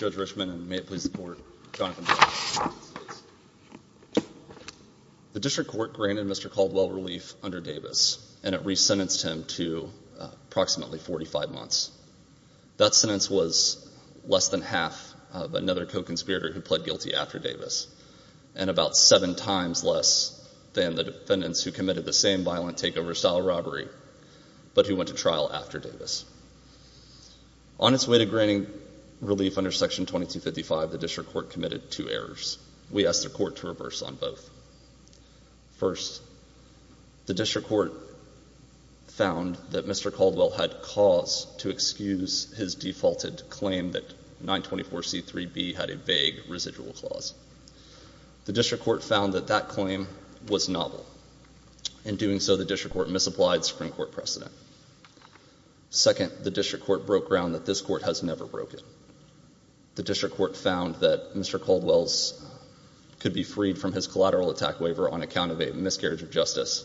The District Court granted Mr. Caldwell relief under Davis, and it re-sentenced him to approximately 45 months. That sentence was less than half of another co-conspirator who pled guilty after Davis, and about seven times less than the defendants who committed the same violent takeover-style robbery, but who went to trial after Davis. On its way to granting relief under Section 2255, the District Court committed two errors. We asked the Court to reverse on both. First, the District Court found that Mr. Caldwell had cause to excuse his defaulted claim that 924c3b had a vague residual clause. The District Court found that that claim was novel. In doing so, the District Court misapplied Supreme Court precedent. Second, the District Court broke ground that this Court has never broken. The District Court found that Mr. Caldwell could be freed from his collateral attack waiver on account of a miscarriage of justice,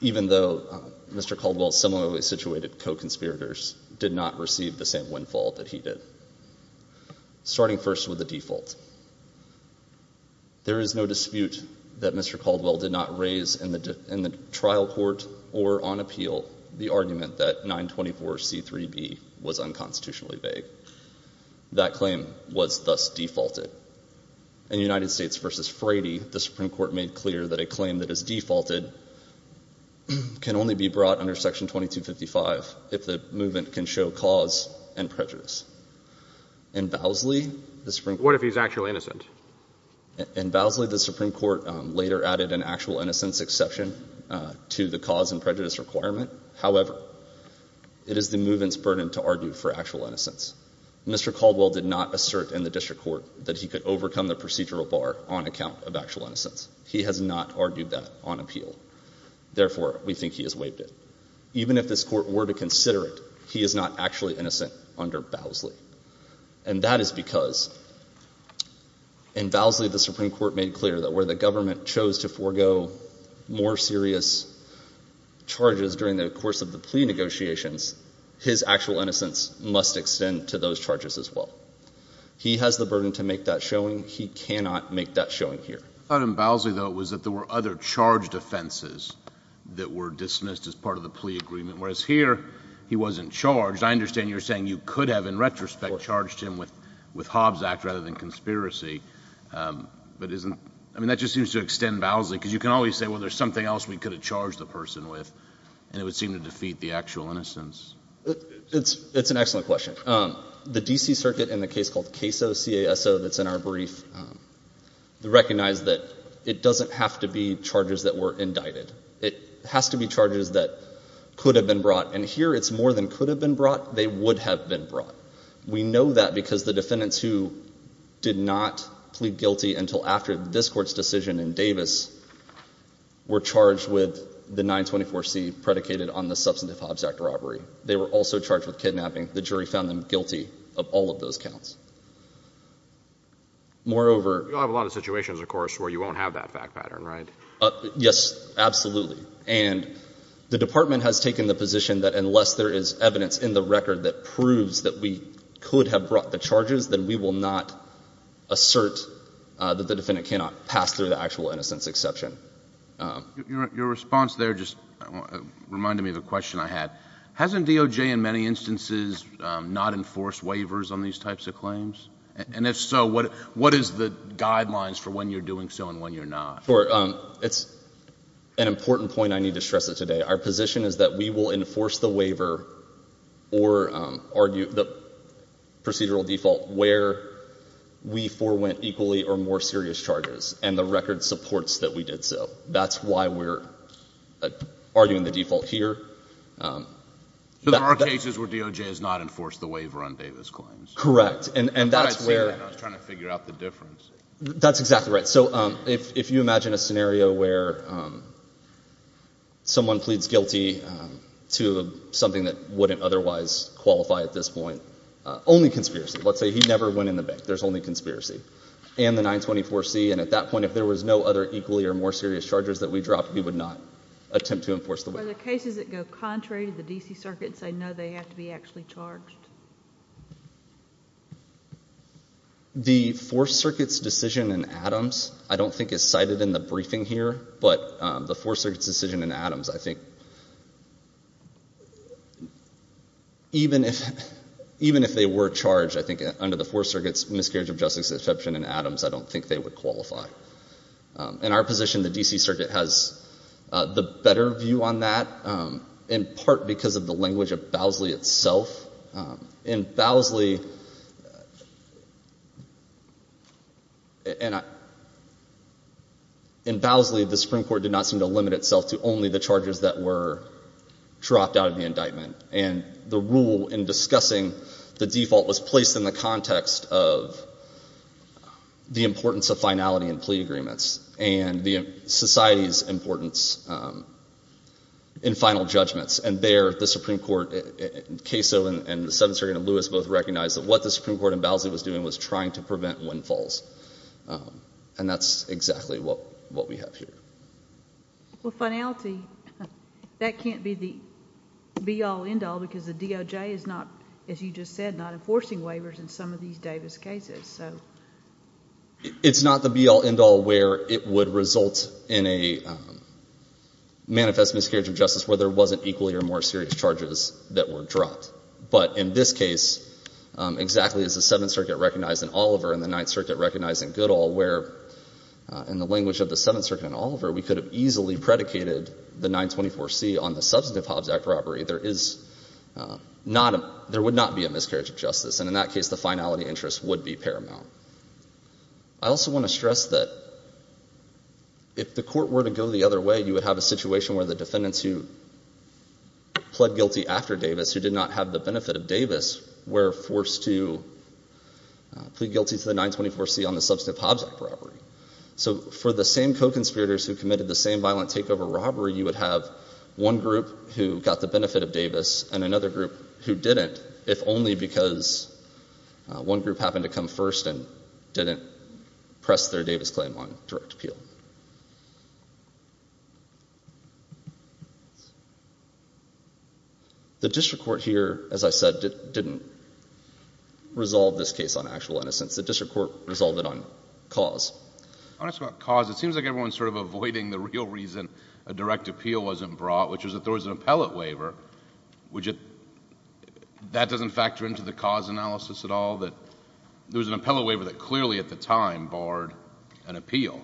even though Mr. Caldwell's similarly situated co-conspirators did not receive the same windfall that he did. Starting first with the default, there is no dispute that 924c3b was unconstitutionally vague. That claim was thus defaulted. In United States v. Frady, the Supreme Court made clear that a claim that is defaulted can only be brought under Section 2255 if the movement can show cause and prejudice. In Vowsley, the Supreme Court- What if he's actually innocent? In Vowsley, the Supreme Court later added an actual innocence exception to the cause and prejudice requirement. However, it is the movement's burden to argue for actual innocence. Mr. Caldwell did not assert in the District Court that he could overcome the procedural bar on account of actual innocence. He has not argued that on appeal. Therefore, we think he has waived it. Even if this Court were to consider it, he is not actually innocent under Vowsley. And that is because in Vowsley, the Supreme Court made clear that where the charges during the course of the plea negotiations, his actual innocence must extend to those charges as well. He has the burden to make that showing. He cannot make that showing here. I thought in Vowsley, though, it was that there were other charged offenses that were dismissed as part of the plea agreement, whereas here, he wasn't charged. I understand you're saying you could have, in retrospect, charged him with Hobbs Act rather than conspiracy, but isn't- I mean, that just seems to extend Vowsley, because you can always say, well, there's something else we could have charged the person with, and it would seem to defeat the actual innocence. It's an excellent question. The D.C. Circuit, in the case called CASO, C-A-S-O, that's in our brief, recognized that it doesn't have to be charges that were indicted. It has to be charges that could have been brought. And here, it's more than could have been brought. They would have been brought. We know that because the defendants who did not plead guilty until after this Court's decision in Davis were charged with the 924C predicated on the substantive Hobbs Act robbery. They were also charged with kidnapping. The jury found them guilty of all of those counts. Moreover- You'll have a lot of situations, of course, where you won't have that fact pattern, right? Yes, absolutely. And the Department has taken the position that unless there is evidence in the record that proves that we could have brought the charges, then we will not assert that the defendant cannot pass through the actual innocence exception. Your response there just reminded me of a question I had. Hasn't DOJ, in many instances, not enforced waivers on these types of claims? And if so, what is the guidelines for when you're doing so and when you're not? It's an important point. I need to stress it today. Our position is that we will enforce the waiver or argue the procedural default where we forewent equally or more serious charges. And the record supports that we did so. That's why we're arguing the default here. So there are cases where DOJ has not enforced the waiver on Davis claims? Correct. And that's where- I thought I'd see that. I was trying to figure out the difference. That's exactly right. So if you imagine a scenario where someone pleads guilty to something that wouldn't otherwise qualify at this point, only conspiracy. Let's say he never went in the bank. There's only conspiracy. And the 924C. And at that point, if there was no other equally or more serious charges that we dropped, we would not attempt to enforce the waiver. Are there cases that go contrary to the D.C. Circuit and say, no, they have to be actually charged? The 4th Circuit's decision in Adams, I don't think is cited in the briefing here, but the 4th Circuit's decision in Adams, I think, even if they were charged, I think, under the 4th Circuit's miscarriage of justice exception in Adams, I don't think they would qualify. In our position, the D.C. Circuit has the better view on that, in part because of the language of the D.C. Circuit. In Bowsley, the Supreme Court did not seem to limit itself to only the charges that were dropped out of the indictment. And the rule in discussing the default was placed in the context of the importance of finality in plea agreements and the society's importance in final judgments. And there, the Supreme Court, Kaso and the 7th Circuit and Lewis both recognized that what the Supreme Court in Bowsley was doing was trying to prevent windfalls. And that's exactly what we have here. Well, finality, that can't be the be-all, end-all because the DOJ is not, as you just said, not enforcing waivers in some of these Davis cases. It's not the be-all, end-all where it would result in a manifest miscarriage of justice where there wasn't equally or more serious charges that were dropped. But in this case, exactly as the 7th Circuit recognized in Oliver and the 9th Circuit recognized in Goodall where, in the language of the 7th Circuit in Oliver, we could have easily predicated the 924C on the substantive Hobbs Act robbery, there is not a — there would not be a miscarriage of justice here, no. I also want to stress that if the court were to go the other way, you would have a situation where the defendants who pled guilty after Davis, who did not have the benefit of Davis, were forced to plead guilty to the 924C on the substantive Hobbs Act robbery. So for the same co-conspirators who committed the same violent takeover robbery, you would have one group who got the benefit of Davis and another group who didn't, if only because one group happened to come first and didn't press their Davis claim on direct appeal. The district court here, as I said, didn't resolve this case on actual innocence. The district court resolved it on cause. I want to ask about cause. It seems like everyone is sort of avoiding the real reason a direct appeal wasn't brought, which was that there was an appellate waiver. That doesn't factor into the cause analysis at all, that there was an appellate waiver that clearly at the time barred an appeal.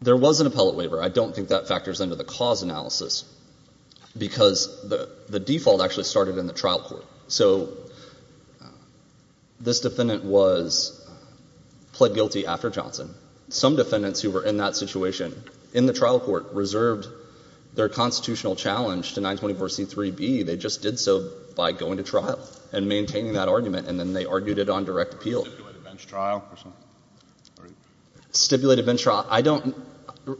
There was an appellate waiver. I don't think that factors into the cause analysis, because the default actually started in the trial court. So this defendant was pled guilty after Johnson. Some defendants who were in that situation in the trial court reserved their by going to trial and maintaining that argument, and then they argued it on direct appeal. Stipulated bench trial or something? Stipulated bench trial.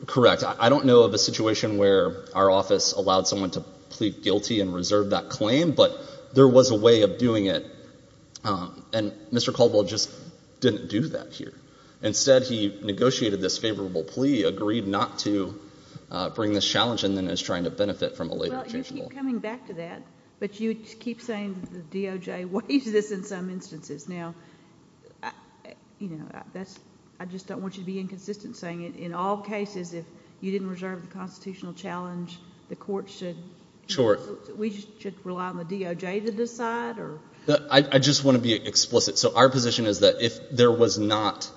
Correct. I don't know of a situation where our office allowed someone to plead guilty and reserve that claim, but there was a way of doing it, and Mr. Caldwell just didn't do that here. Instead, he negotiated this favorable plea, agreed not to bring this challenge, and then is trying to benefit from a later changeable. You keep coming back to that, but you keep saying the DOJ waived this in some instances. Now, you know, I just don't want you to be inconsistent, saying in all cases, if you didn't reserve the constitutional challenge, the court should rely on the DOJ to decide? I just want to be explicit. So our position is that if there was not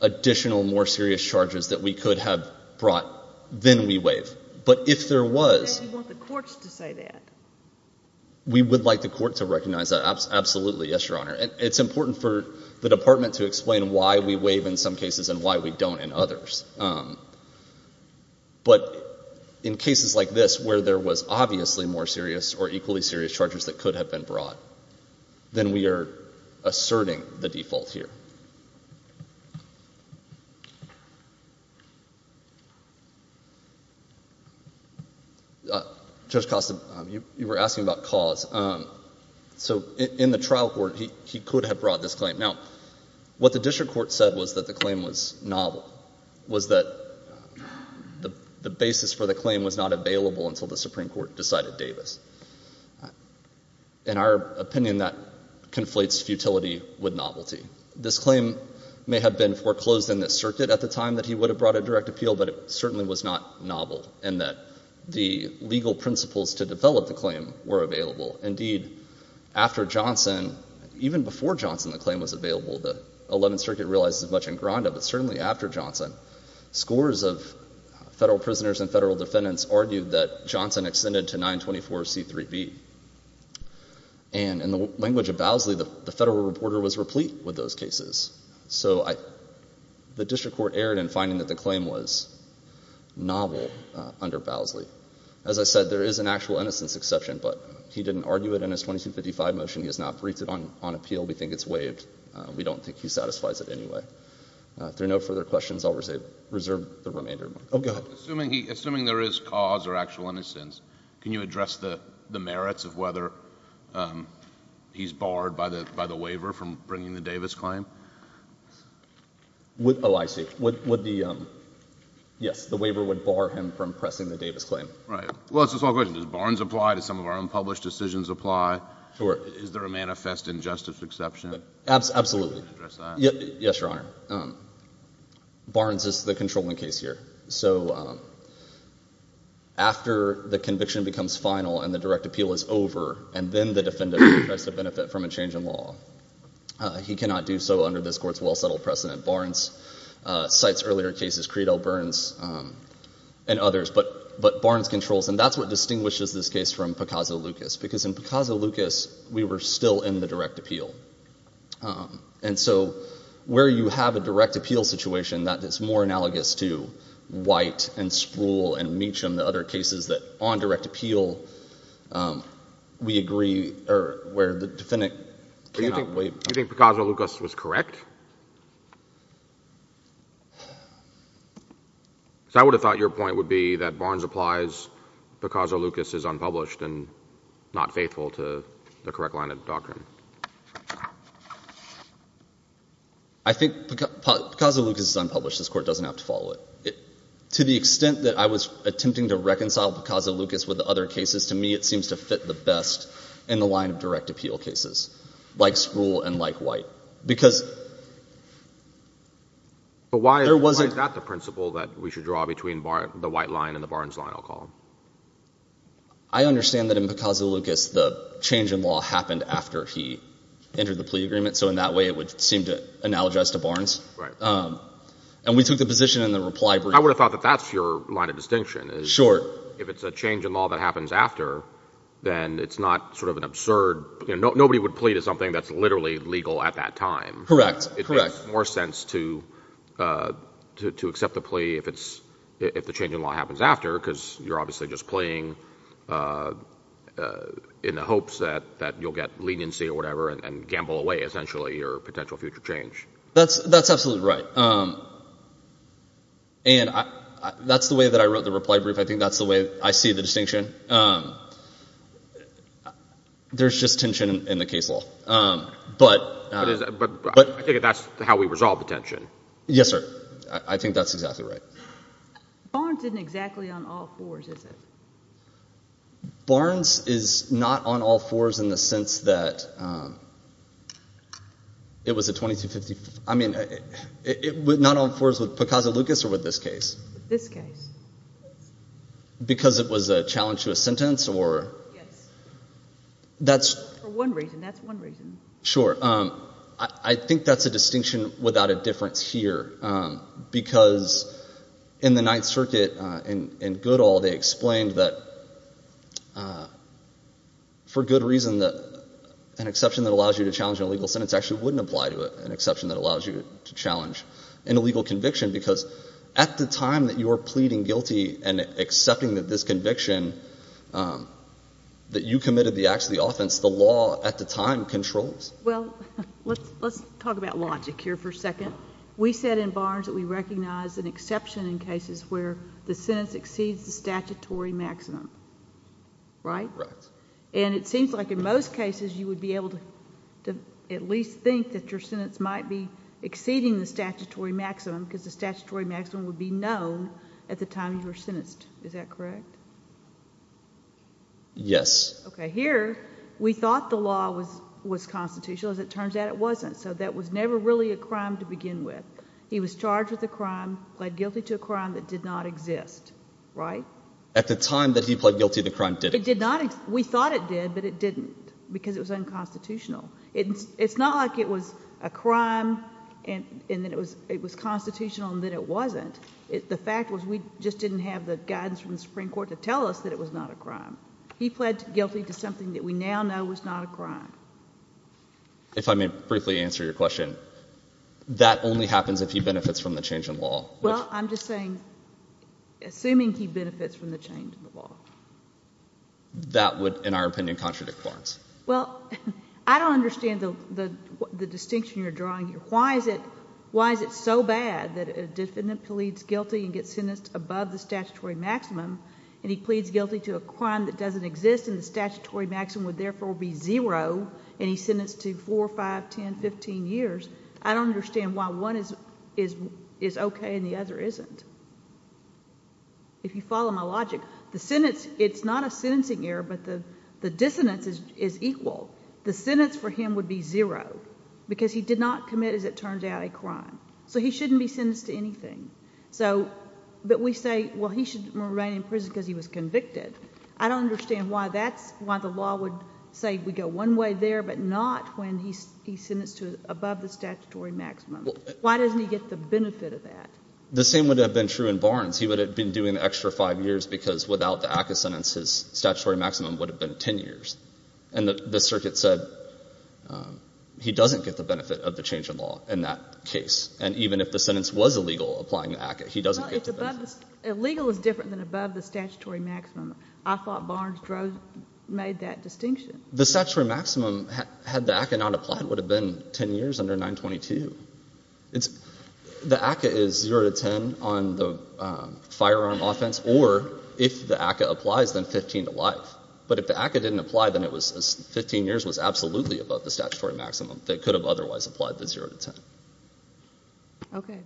additional, more serious charges that we could have brought, then we waive. But if there was... Why do you want the courts to say that? We would like the court to recognize that. Absolutely, yes, Your Honor. It's important for the department to explain why we waive in some cases and why we don't in others. But in cases like this, where there was obviously more serious or equally serious charges that could have been brought, then we are asserting the default here. Judge Costa, you were asking about cause. So in the trial court, he could have brought this claim. Now, what the district court said was that the claim was novel, was that the In our opinion, that conflates futility with novelty. This claim may have been foreclosed in the circuit at the time that he would have brought a direct appeal, but it certainly was not novel in that the legal principles to develop the claim were available. Indeed, after Johnson, even before Johnson, the claim was available, the Eleventh Circuit realizes much in Gronda, but certainly after Johnson, scores of federal prisoners and federal defendants argued that Johnson extended to 924C3B. And in the language of Bowsley, the federal reporter was replete with those cases. So the district court erred in finding that the claim was novel under Bowsley. As I said, there is an actual innocence exception, but he didn't argue it in his 2255 motion. He has not briefed it on appeal. We think it's waived. We don't think he satisfies it anyway. If there are no further questions, I'll reserve the remainder of my time. Oh, go ahead. Assuming there is cause or actual innocence, can you address the merits of whether he's barred by the waiver from bringing the Davis claim? Oh, I see. Yes, the waiver would bar him from pressing the Davis claim. Right. Well, it's a small question. Does Barnes apply? Do some of our unpublished decisions apply? Sure. Is there a manifest injustice exception? Absolutely. Can you address that? Yes, Your Honor. Barnes is the controlling case here. So after the conviction becomes final and the direct appeal is over, and then the defendant tries to benefit from a change in law, he cannot do so under this court's well-settled precedent. Barnes cites earlier cases, Creed, L. Burns, and others. But Barnes controls, and that's what distinguishes this case from Picasso-Lucas, because in Picasso-Lucas, we were still in the direct appeal. And so where you have a direct appeal situation that is more analogous to White and Spruill and Meacham, the other cases that, on direct appeal, we agree, or where the defendant cannot waive — Do you think Picasso-Lucas was correct? I would have thought your point would be that Barnes applies, Picasso-Lucas is unpublished and not faithful to the correct line of doctrine. I think Picasso-Lucas is unpublished. This Court doesn't have to follow it. To the extent that I was attempting to reconcile Picasso-Lucas with the other cases, to me it seems to fit the best in the line of direct appeal cases, like Spruill and like White. But why is that the principle that we should draw between the White line and the Barnes line, I'll call them? I understand that in Picasso-Lucas, the change in law happened after he entered the plea agreement, so in that way it would seem to analogize to Barnes. And we took the position in the reply brief — I would have thought that that's your line of distinction. If it's a change in law that happens after, then it's not sort of an absurd — nobody would plea to something that's literally legal at that time. Correct. It makes more sense to accept the plea if the change in law happens after, because you're obviously just pleaing in the hopes that you'll get leniency or whatever and gamble away, essentially, your potential future change. That's absolutely right. And that's the way that I wrote the reply brief. I think that's the way I see the distinction. There's just tension in the case law. But I think that's how we resolve the tension. Yes, sir. I think that's exactly right. Barnes isn't exactly on all fours, is it? Barnes is not on all fours in the sense that it was a 2255 — I mean, not on all fours with Picasso-Lucas or with this case. This case. Because it was a challenge to a sentence or — Yes. That's — For one reason. That's one reason. Sure. I think that's a distinction without a difference here. Because in the Ninth Circuit, in Goodall, they explained that, for good reason, that an exception that allows you to challenge an illegal sentence actually wouldn't apply to an exception that allows you to challenge an illegal conviction, because at the time that you were pleading guilty and accepting this conviction, that you committed the acts of the offense, the law at the time controls. Well, let's talk about logic here for a second. We said in Barnes that we recognize an exception in cases where the sentence exceeds the statutory maximum. Right? Right. And it seems like in most cases, you would be able to at least think that your sentence might be exceeding the statutory maximum, because the statutory maximum would be known at the time you were sentenced. Is that correct? Yes. Okay. Here, we thought the law was constitutional. As it turns out, it wasn't. So that was never really a crime to begin with. He was charged with a crime, pled guilty to a crime that did not exist. Right? At the time that he pled guilty, the crime didn't exist. We thought it did, but it didn't, because it was unconstitutional. It's not like it was a crime and then it was constitutional and then it wasn't. The fact was we just didn't have the guidance from the Supreme Court to tell us that it was not a crime. He pled guilty to something that we now know was not a crime. If I may briefly answer your question, that only happens if he benefits from the change in law. Well, I'm just saying, assuming he benefits from the change in the law. That would, in our opinion, contradict Barnes. Well, I don't understand the distinction you're drawing here. Why is it so bad that a defendant pleads guilty and gets sentenced above the statutory maximum and he pleads guilty to a crime that doesn't exist and the statutory maximum would therefore be zero and he's sentenced to four, five, ten, fifteen years? I don't understand why one is okay and the other isn't. If you follow my logic, it's not a sentencing error, but the dissonance is equal. The sentence for him would be zero, because he did not commit, as it turns out, a crime. So he shouldn't be sentenced to anything, but we say, well, he should remain in prison because he was convicted. I don't understand why that's why the law would say we go one way there, but not when he's sentenced to above the statutory maximum. Why doesn't he get the benefit of that? The same would have been true in Barnes. He would have been doing the extra five years because without the ACCA sentence, his statutory maximum would have been ten years. And the circuit said he doesn't get the benefit of the change in law in that case. And even if the sentence was illegal, applying the ACCA, he doesn't get the benefit. Illegal is different than above the statutory maximum. I thought Barnes made that distinction. The statutory maximum, had the ACCA not applied, would have been ten years under 922. The ACCA is zero to ten on the firearm offense, or if the ACCA applies, then fifteen to life. But if the ACCA didn't apply, then fifteen years was absolutely above the statutory maximum that could have otherwise applied the zero to ten. Okay.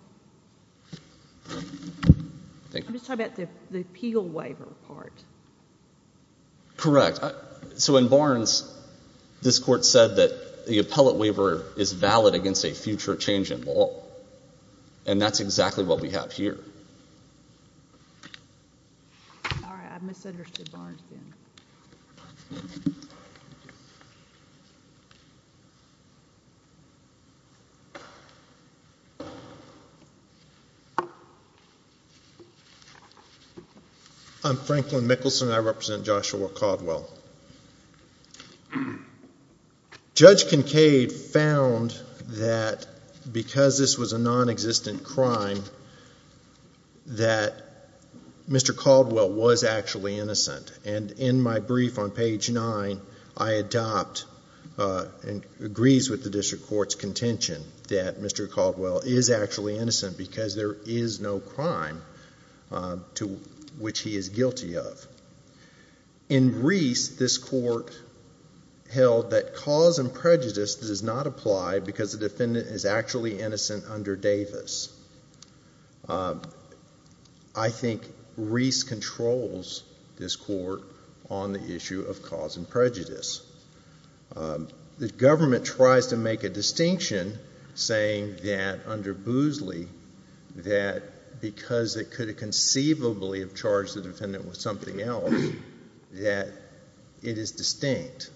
I'm just talking about the appeal waiver part. Correct. So in Barnes, this Court said that the appellate waiver is valid against a future change in law. And that's exactly what we have here. All right. I've misunderstood Barnes then. I'm Franklin Mickelson. I represent Joshua Caldwell. Judge Kincaid found that because this was a non-existent crime, that Mr. Caldwell was actually innocent. And in my brief on page nine, I adopt and agrees with the District Court's contention that Mr. Caldwell is actually innocent because there is no crime to which he is guilty of. In Reese, this Court held that cause and prejudice does not apply because the defendant is actually innocent under Davis. I think Reese controls this Court on the issue of cause and prejudice. The government tries to make a distinction, saying that under Boozley, that because it could conceivably have charged the defendant with something else, that it is distinct.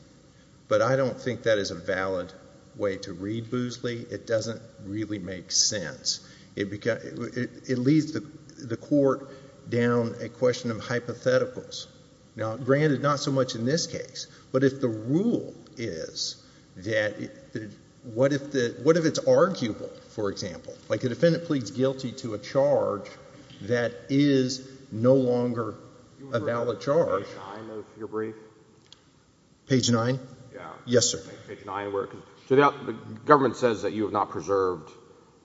But I don't think that is a valid way to read Boozley. It doesn't really make sense. It leads the Court down a question of hypotheticals. Now, granted, not so much in this case. But if the rule is that... what if it's guilty to a charge that is no longer a valid charge... Page nine of your brief? Page nine? Yes, sir. So the government says that you have not preserved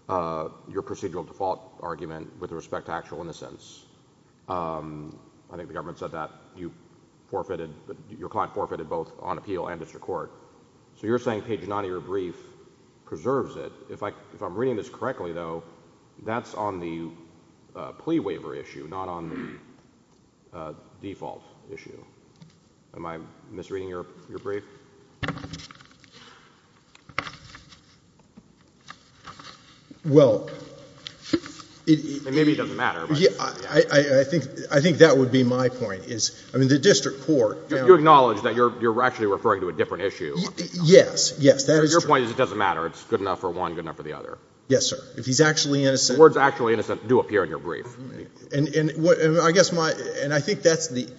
your procedural default argument with respect to actual innocence. I think the government said that you forfeited... your client forfeited both on appeal and District Court. So you're saying page nine of your brief preserves it. If I'm reading this correctly, though, that's on the plea waiver issue, not on the default issue. Am I misreading your brief? Well... I mean, maybe it doesn't matter, but... I think that would be my point, is... I mean, the District Court... You acknowledge that you're actually referring to a different issue. Yes, yes, that is true. My point is it doesn't matter. It's good enough for one, good enough for the other. Yes, sir. If he's actually innocent... Words actually innocent do appear in your brief. And I guess my... and I think that's the...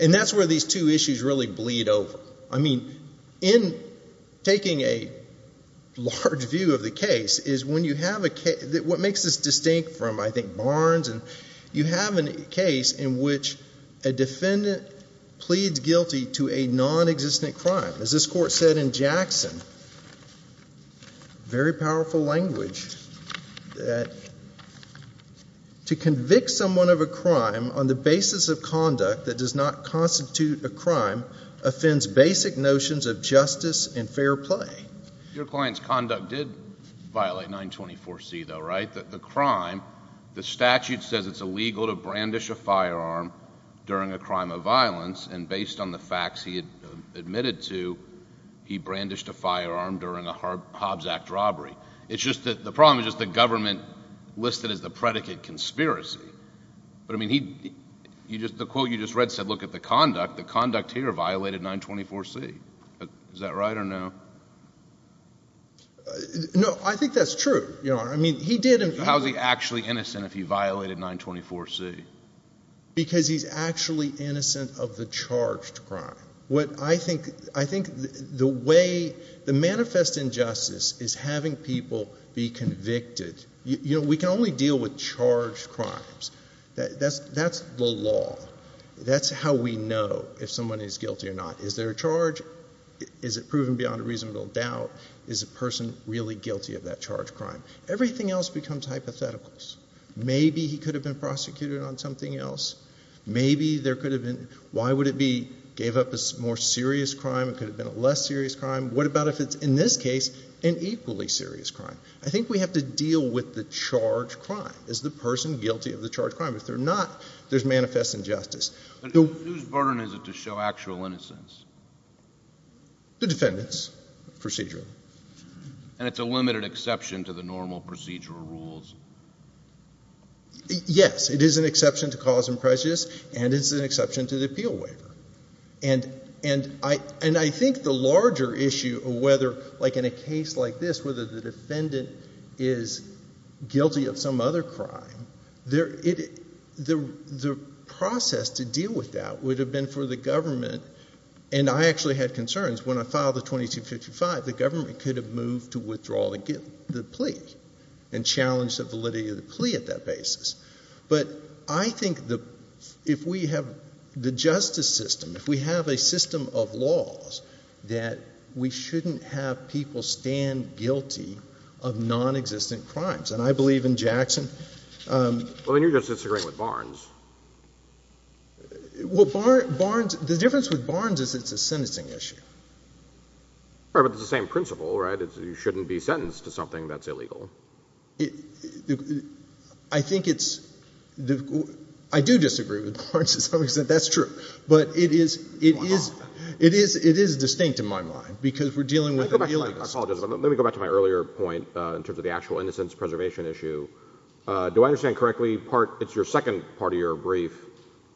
and that's where these two issues really bleed over. I mean, in taking a large view of the case, is when you have a... what makes this distinct from, I think, Barnes, you have a case in which a defendant pleads guilty to a nonexistent crime. As this Court said in Jackson, very powerful language, that... to convict someone of a crime on the basis of conduct that does not constitute a crime offends basic notions of justice and fair play. Your client's conduct did violate 924C, though, right, that the crime... the statute says it's illegal to brandish a firearm during a crime of violence, and based on the facts he admitted to, he brandished a firearm during a Hobbs Act robbery. It's just that the problem is just the government listed as the predicate conspiracy. But, I mean, he... you just... the quote you just read said, look at the conduct. The conduct here violated 924C. Is that right or no? No, I think that's true, Your Honor. I mean, he did... How is he actually innocent if he violated 924C? Because he's actually innocent of the charged crime. What I think... I think the way... the manifest injustice is having people be convicted. You know, we can only deal with charged crimes. That's the law. That's how we know if someone is guilty or not. Is there a charge? Is it proven beyond a reasonable doubt? Is the person really guilty of that charged crime? Everything else becomes hypotheticals. Maybe he could have been prosecuted on something else. Maybe there could have been... why would it be... gave up a more serious crime? It could have been a less serious crime. What about if it's, in this case, an equally serious crime? I think we have to deal with the charged crime. Is the person guilty of the charged crime? If they're not, there's manifest injustice. Whose burden is it to show actual innocence? The defendant's, procedurally. And it's a limited exception to the normal procedural rules. Yes, it is an exception to cause and prejudice, and it's an exception to the appeal waiver. And I think the larger issue of whether, like in a case like this, whether the defendant is guilty of some other crime, the process to deal with that would have been for the government... could have moved to withdraw the plea and challenge the validity of the plea at that basis. But I think if we have the justice system, if we have a system of laws, that we shouldn't have people stand guilty of nonexistent crimes. And I believe in Jackson... Well, then you're just disagreeing with Barnes. Well, Barnes... the difference with Barnes is it's a sentencing issue. Right, but it's the same principle, right? You shouldn't be sentenced to something that's illegal. I think it's... I do disagree with Barnes to some extent. That's true. But it is... Why not? It is distinct in my mind, because we're dealing with... Let me go back to my earlier point in terms of the actual innocence preservation issue. Do I understand correctly, part... it's your second part of your brief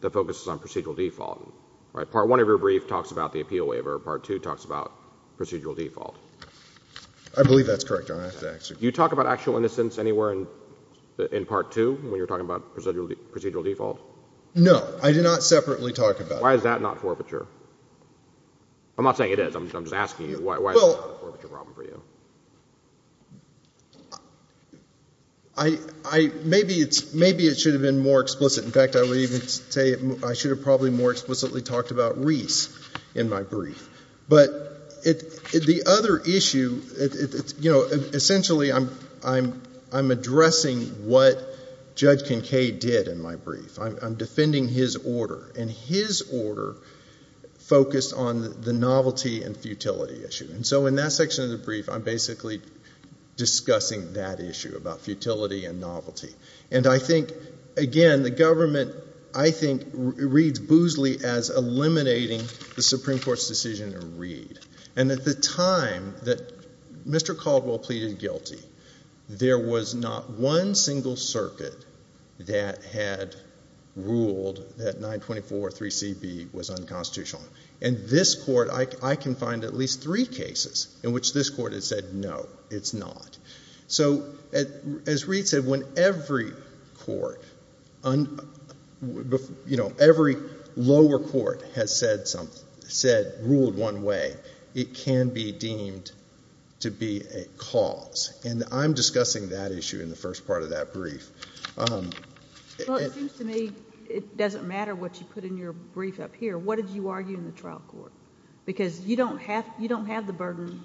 that focuses on procedural default, right? Part one of your brief talks about the appeal waiver. Part two talks about procedural default. I believe that's correct, Your Honor. Do you talk about actual innocence anywhere in part two when you're talking about procedural default? No. I do not separately talk about it. Why is that not forfeiture? I'm not saying it is. I'm just asking you why it's not a forfeiture problem for you. Well, I... maybe it should have been more explicit. In fact, I would even say I should have probably more explicitly talked about Reese in my brief. But the other issue, you know, essentially I'm addressing what Judge Kincaid did in my brief. I'm defending his order, and his order focused on the novelty and futility issue. And so in that section of the brief, I'm basically discussing that issue about futility and novelty. And I think, again, the government, I think, reads boostly as eliminating the Supreme Court's decision to read. And at the time that Mr. Caldwell pleaded guilty, there was not one single circuit that had ruled that 924-3CB was unconstitutional. In this court, I can find at least three cases in which this court has said no, it's not. So as Reed said, when every court, you know, every lower court has said ruled one way, it can be deemed to be a cause. And I'm discussing that issue in the first part of that brief. Well, it seems to me it doesn't matter what you put in your brief up here. What did you argue in the trial court? Because you don't have the burden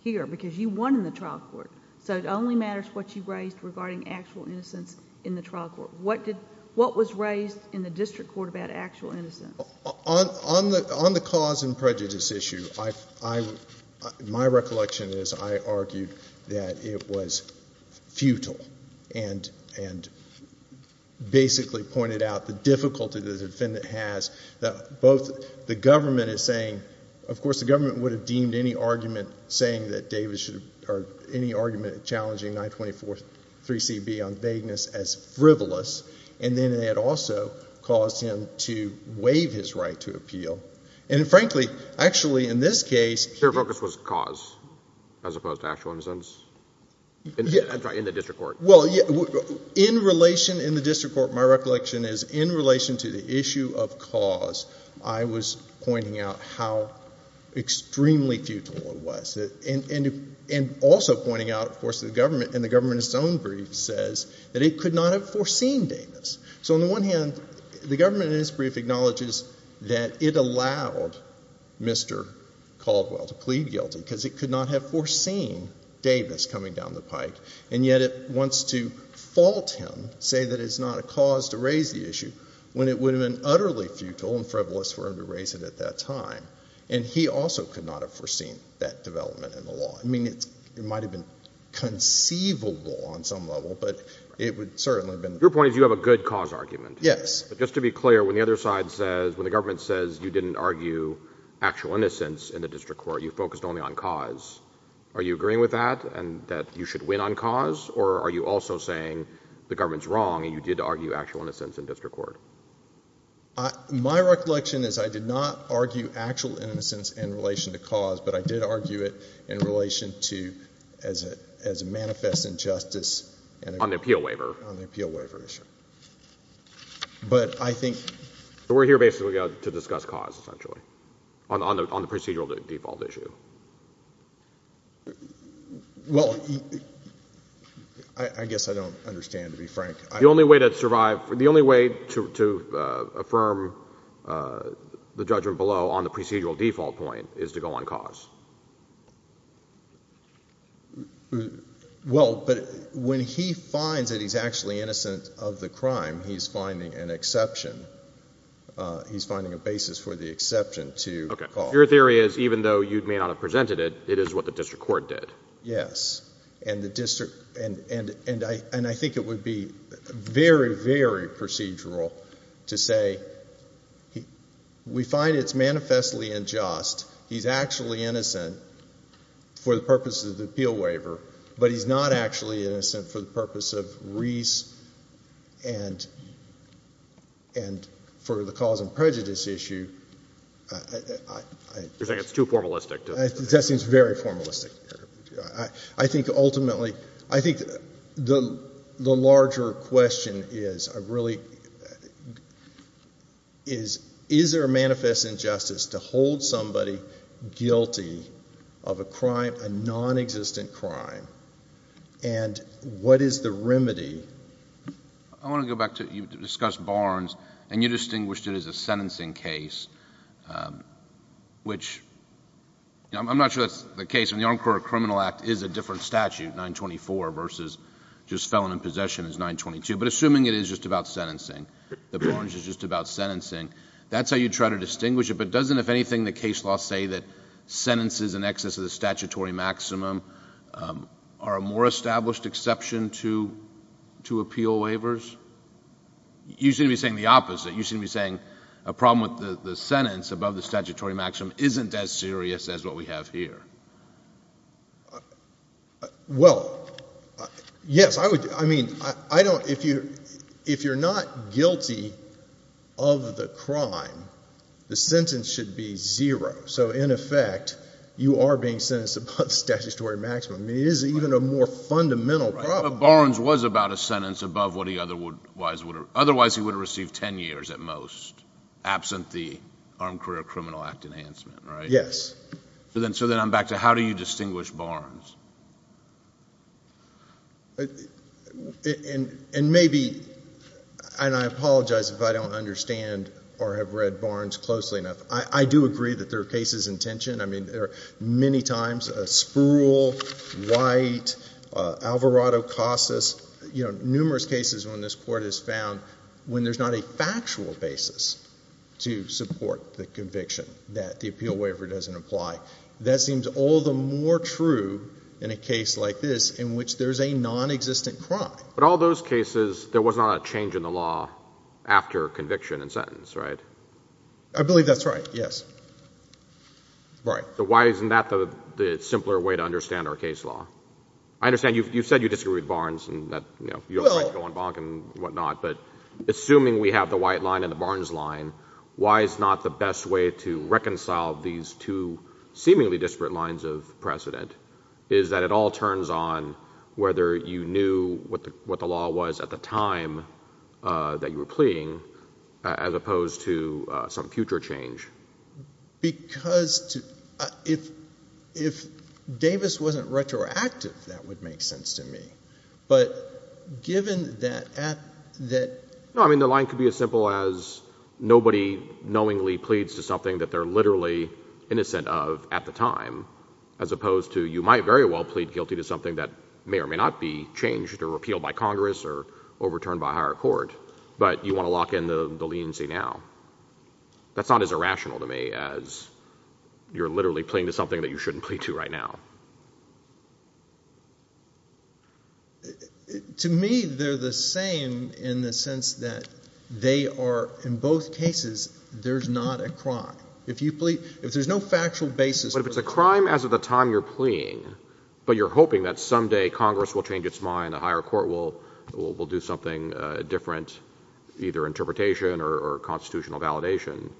here because you won in the trial court. So it only matters what you raised regarding actual innocence in the trial court. What did – what was raised in the district court about actual innocence? On the cause and prejudice issue, I – my recollection is I argued that it was futile and basically pointed out the difficulty the defendant has. Both the government is saying – of course, the government would have deemed any argument saying that Davis should – or any argument challenging 924-3CB on vagueness as frivolous. And then it also caused him to waive his right to appeal. And frankly, actually in this case – Your focus was cause as opposed to actual innocence? That's right, in the district court. Well, in relation – in the district court, my recollection is in relation to the issue of cause, I was pointing out how extremely futile it was. And also pointing out, of course, that the government – and the government in its own brief says that it could not have foreseen Davis. So on the one hand, the government in its brief acknowledges that it allowed Mr. Caldwell to plead guilty because it could not have foreseen Davis coming down the pike. And yet it wants to fault him, say that it's not a cause to raise the issue, when it would have been utterly futile and frivolous for him to raise it at that time. And he also could not have foreseen that development in the law. I mean, it might have been conceivable on some level, but it would certainly have been – Your point is you have a good cause argument. Yes. But just to be clear, when the other side says – when the government says you didn't argue actual innocence in the district court, you focused only on cause, are you agreeing with that and that you should win on cause? Or are you also saying the government's wrong and you did argue actual innocence in district court? My recollection is I did not argue actual innocence in relation to cause, but I did argue it in relation to – as a manifest injustice – On the appeal waiver. On the appeal waiver issue. But I think – So we're here basically to discuss cause, essentially, on the procedural default issue. Well, I guess I don't understand, to be frank. The only way to survive – the only way to affirm the judgment below on the procedural default point is to go on cause. Well, but when he finds that he's actually innocent of the crime, he's finding an exception. He's finding a basis for the exception to cause. Okay. Your theory is even though you may not have presented it, it is what the district court did. Yes. And the district – and I think it would be very, very procedural to say we find it's manifestly unjust. He's actually innocent for the purpose of the appeal waiver, but he's not actually innocent for the purpose of Reese and for the cause and prejudice issue. You're saying it's too formalistic. That seems very formalistic. I think ultimately – I think the larger question is a really – is there a manifest injustice to hold somebody guilty of a crime, a nonexistent crime, and what is the remedy? I want to go back to – you discussed Barnes, and you distinguished it as a sentencing case, which – I'm not sure that's the case. In the Armed Court of Criminal Act, it is a different statute, 924, versus just felon in possession is 922. But assuming it is just about sentencing, that Barnes is just about sentencing, that's how you try to distinguish it. But doesn't, if anything, the case law say that sentences in excess of the statutory maximum are a more established exception to appeal waivers? You seem to be saying the opposite. You seem to be saying a problem with the sentence above the statutory maximum isn't as serious as what we have here. Well, yes. I mean, I don't – if you're not guilty of the crime, the sentence should be zero. So, in effect, you are being sentenced above the statutory maximum. It is even a more fundamental problem. But Barnes was about a sentence above what he otherwise would have – otherwise he would have received 10 years at most, absent the Armed Career Criminal Act enhancement, right? Yes. So then I'm back to how do you distinguish Barnes? And maybe – and I apologize if I don't understand or have read Barnes closely enough. I do agree that there are cases in tension. I mean, there are many times a Spruill, White, Alvarado, Casas, you know, numerous cases when this court has found when there's not a factual basis to support the conviction that the appeal waiver doesn't apply. That seems all the more true in a case like this in which there's a nonexistent crime. But all those cases, there was not a change in the law after conviction and sentence, right? I believe that's right, yes. Right. So why isn't that the simpler way to understand our case law? I understand you've said you disagree with Barnes and that, you know, you have a right to go on bonk and whatnot. But assuming we have the White line and the Barnes line, why is not the best way to reconcile these two seemingly disparate lines of precedent is that it all turns on whether you knew what the law was at the time that you were pleading as opposed to some future change? Because if Davis wasn't retroactive, that would make sense to me. But given that at that— No, I mean, the line could be as simple as nobody knowingly pleads to something that they're literally innocent of at the time as opposed to you might very well plead guilty to something that may or may not be changed or repealed by Congress or overturned by higher court. But you want to lock in the leniency now. That's not as irrational to me as you're literally pleading to something that you shouldn't plead to right now. To me, they're the same in the sense that they are—in both cases, there's not a crime. If you plead—if there's no factual basis— But if it's a crime as of the time you're pleading, but you're hoping that someday Congress will change its mind, that higher court will do something different, either interpretation or constitutional validation—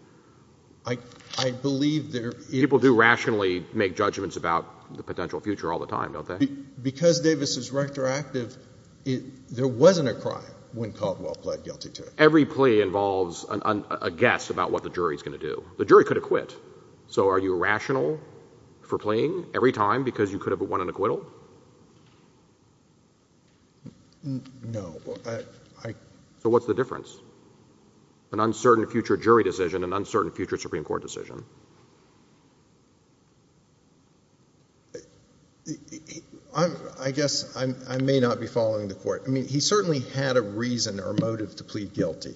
I believe there is— People do rationally make judgments about the potential future all the time, don't they? Because Davis is retroactive, there wasn't a crime when Caldwell pled guilty to it. Every plea involves a guess about what the jury's going to do. The jury could have quit. So are you rational for pleading every time because you could have won an acquittal? No. So what's the difference? An uncertain future jury decision, an uncertain future Supreme Court decision? I guess I may not be following the court. I mean, he certainly had a reason or motive to plead guilty.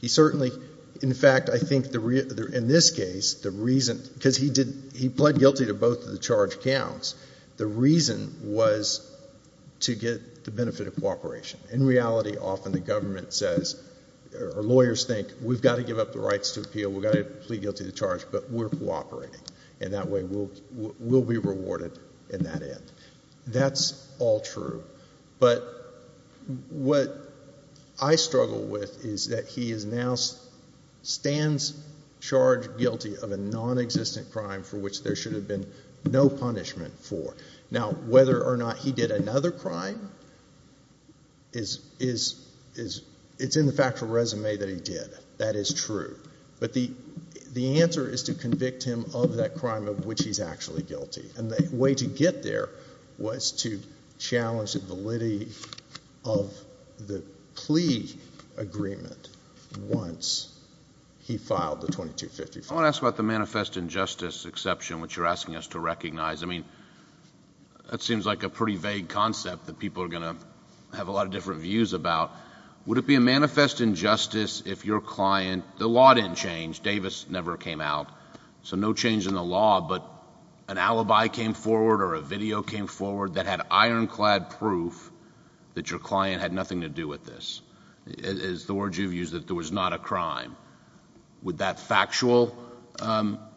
He certainly—in fact, I think in this case, the reason— because he pled guilty to both of the charge counts. The reason was to get the benefit of cooperation. In reality, often the government says, or lawyers think, we've got to give up the rights to appeal, we've got to plead guilty to the charge, but we're cooperating, and that way we'll be rewarded in that end. That's all true. But what I struggle with is that he now stands charge guilty of a nonexistent crime for which there should have been no punishment for. Now, whether or not he did another crime is—it's in the factual resume that he did. That is true. But the answer is to convict him of that crime of which he's actually guilty. And the way to get there was to challenge the validity of the plea agreement once he filed the 2254. I want to ask about the manifest injustice exception, which you're asking us to recognize. I mean, that seems like a pretty vague concept that people are going to have a lot of different views about. Would it be a manifest injustice if your client—the law didn't change. Davis never came out. So no change in the law, but an alibi came forward or a video came forward that had ironclad proof that your client had nothing to do with this. Is the word you've used that there was not a crime. Would that factual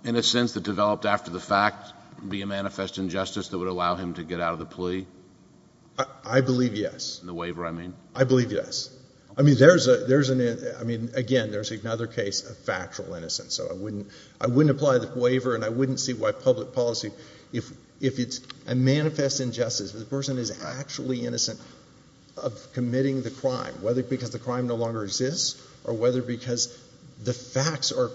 innocence that developed after the fact be a manifest injustice that would allow him to get out of the plea? I believe yes. In the waiver, I mean? I believe yes. I mean, there's an—I mean, again, there's another case of factual innocence. So I wouldn't apply the waiver, and I wouldn't see why public policy— if it's a manifest injustice, if the person is actually innocent of committing the crime, whether because the crime no longer exists or whether because the facts are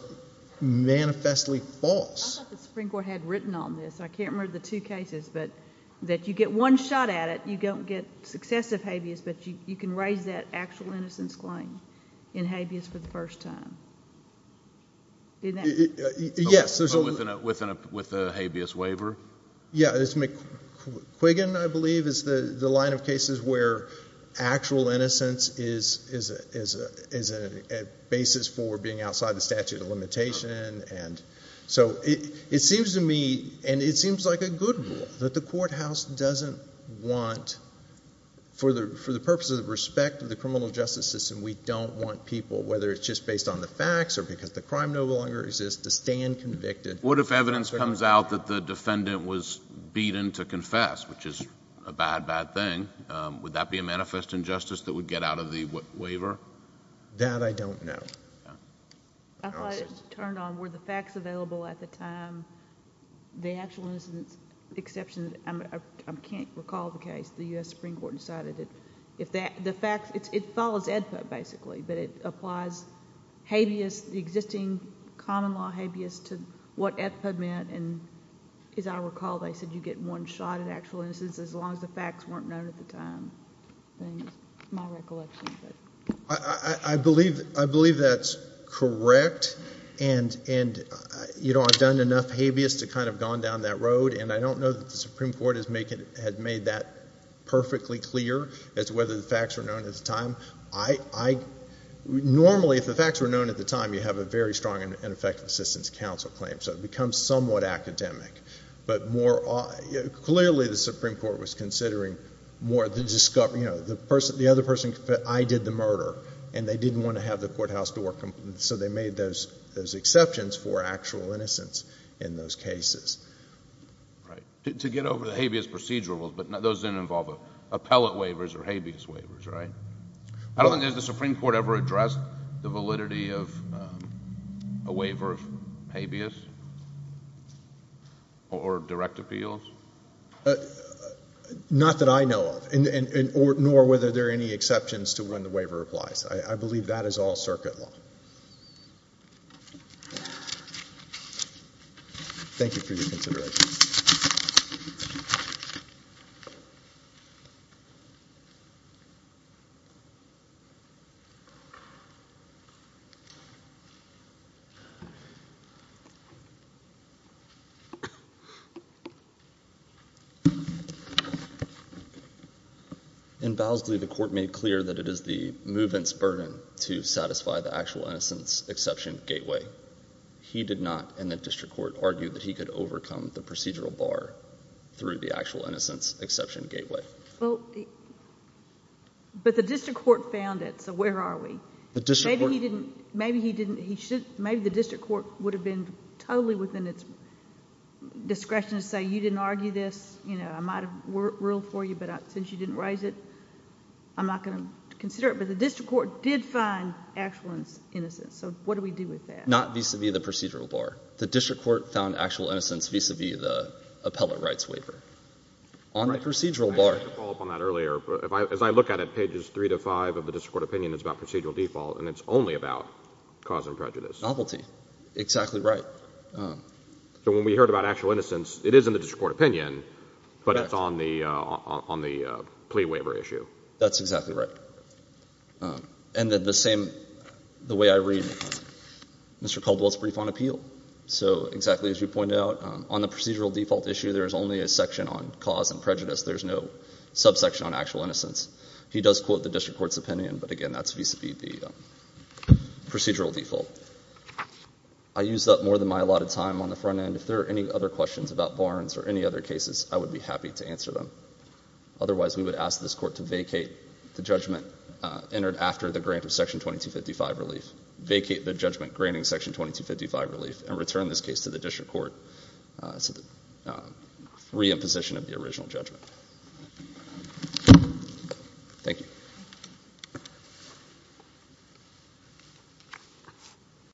manifestly false. I thought the Supreme Court had written on this. I can't remember the two cases, but that you get one shot at it, you don't get successive habeas, but you can raise that actual innocence claim in habeas for the first time. Yes. With a habeas waiver? Yes. McQuiggan, I believe, is the line of cases where actual innocence is a basis for being outside the statute of limitation. And so it seems to me, and it seems like a good rule, that the courthouse doesn't want, for the purposes of respect of the criminal justice system, we don't want people, whether it's just based on the facts or because the crime no longer exists, to stand convicted. What if evidence comes out that the defendant was beaten to confess, which is a bad, bad thing? Would that be a manifest injustice that would get out of the waiver? That I don't know. I thought it was turned on. Were the facts available at the time? The actual innocence exception—I can't recall the case. The U.S. Supreme Court decided that if the facts—it follows AEDPA, basically, but it applies habeas, the existing common law habeas, to what AEDPA meant. And as I recall, they said you get one shot at actual innocence as long as the facts weren't known at the time. That's my recollection. I believe that's correct, and, you know, I've done enough habeas to kind of have gone down that road, and I don't know that the Supreme Court had made that perfectly clear as to whether the facts were known at the time. I—normally, if the facts were known at the time, you have a very strong and effective assistance counsel claim, so it becomes somewhat academic. But more—clearly, the Supreme Court was considering more the—you know, the other person—I did the murder, and they didn't want to have the courthouse door— Right. To get over the habeas procedural rules, but those didn't involve appellate waivers or habeas waivers, right? I don't think the Supreme Court ever addressed the validity of a waiver of habeas or direct appeals. Not that I know of, nor whether there are any exceptions to when the waiver applies. I believe that is all circuit law. Thank you for your consideration. In Bowlesley, the court made clear that it is the movement's burden to satisfy the actual innocence exception gateway. He did not, in the district court, argue that he could overcome the procedural bar through the actual innocence exception gateway. But the district court found it, so where are we? Maybe he didn't—maybe the district court would have been totally within its discretion to say, you didn't argue this, you know, I might have ruled for you, but since you didn't raise it, I'm not going to consider it. But the district court did find actual innocence, so what do we do with that? Not vis-à-vis the procedural bar. The district court found actual innocence vis-à-vis the appellate rights waiver. On the procedural bar— I wanted to follow up on that earlier. As I look at it, pages three to five of the district court opinion is about procedural default, and it's only about cause and prejudice. Novelty. Exactly right. So when we heard about actual innocence, it is in the district court opinion, but it's on the plea waiver issue. That's exactly right. And the same—the way I read Mr. Caldwell's brief on appeal. So exactly as you pointed out, on the procedural default issue, there is only a section on cause and prejudice. There's no subsection on actual innocence. He does quote the district court's opinion, but, again, that's vis-à-vis the procedural default. I used up more than my allotted time on the front end. If there are any other questions about Barnes or any other cases, I would be happy to answer them. Otherwise, we would ask this court to vacate the judgment entered after the grant of Section 2255 relief, vacate the judgment granting Section 2255 relief, and return this case to the district court to reimposition of the original judgment. Thank you.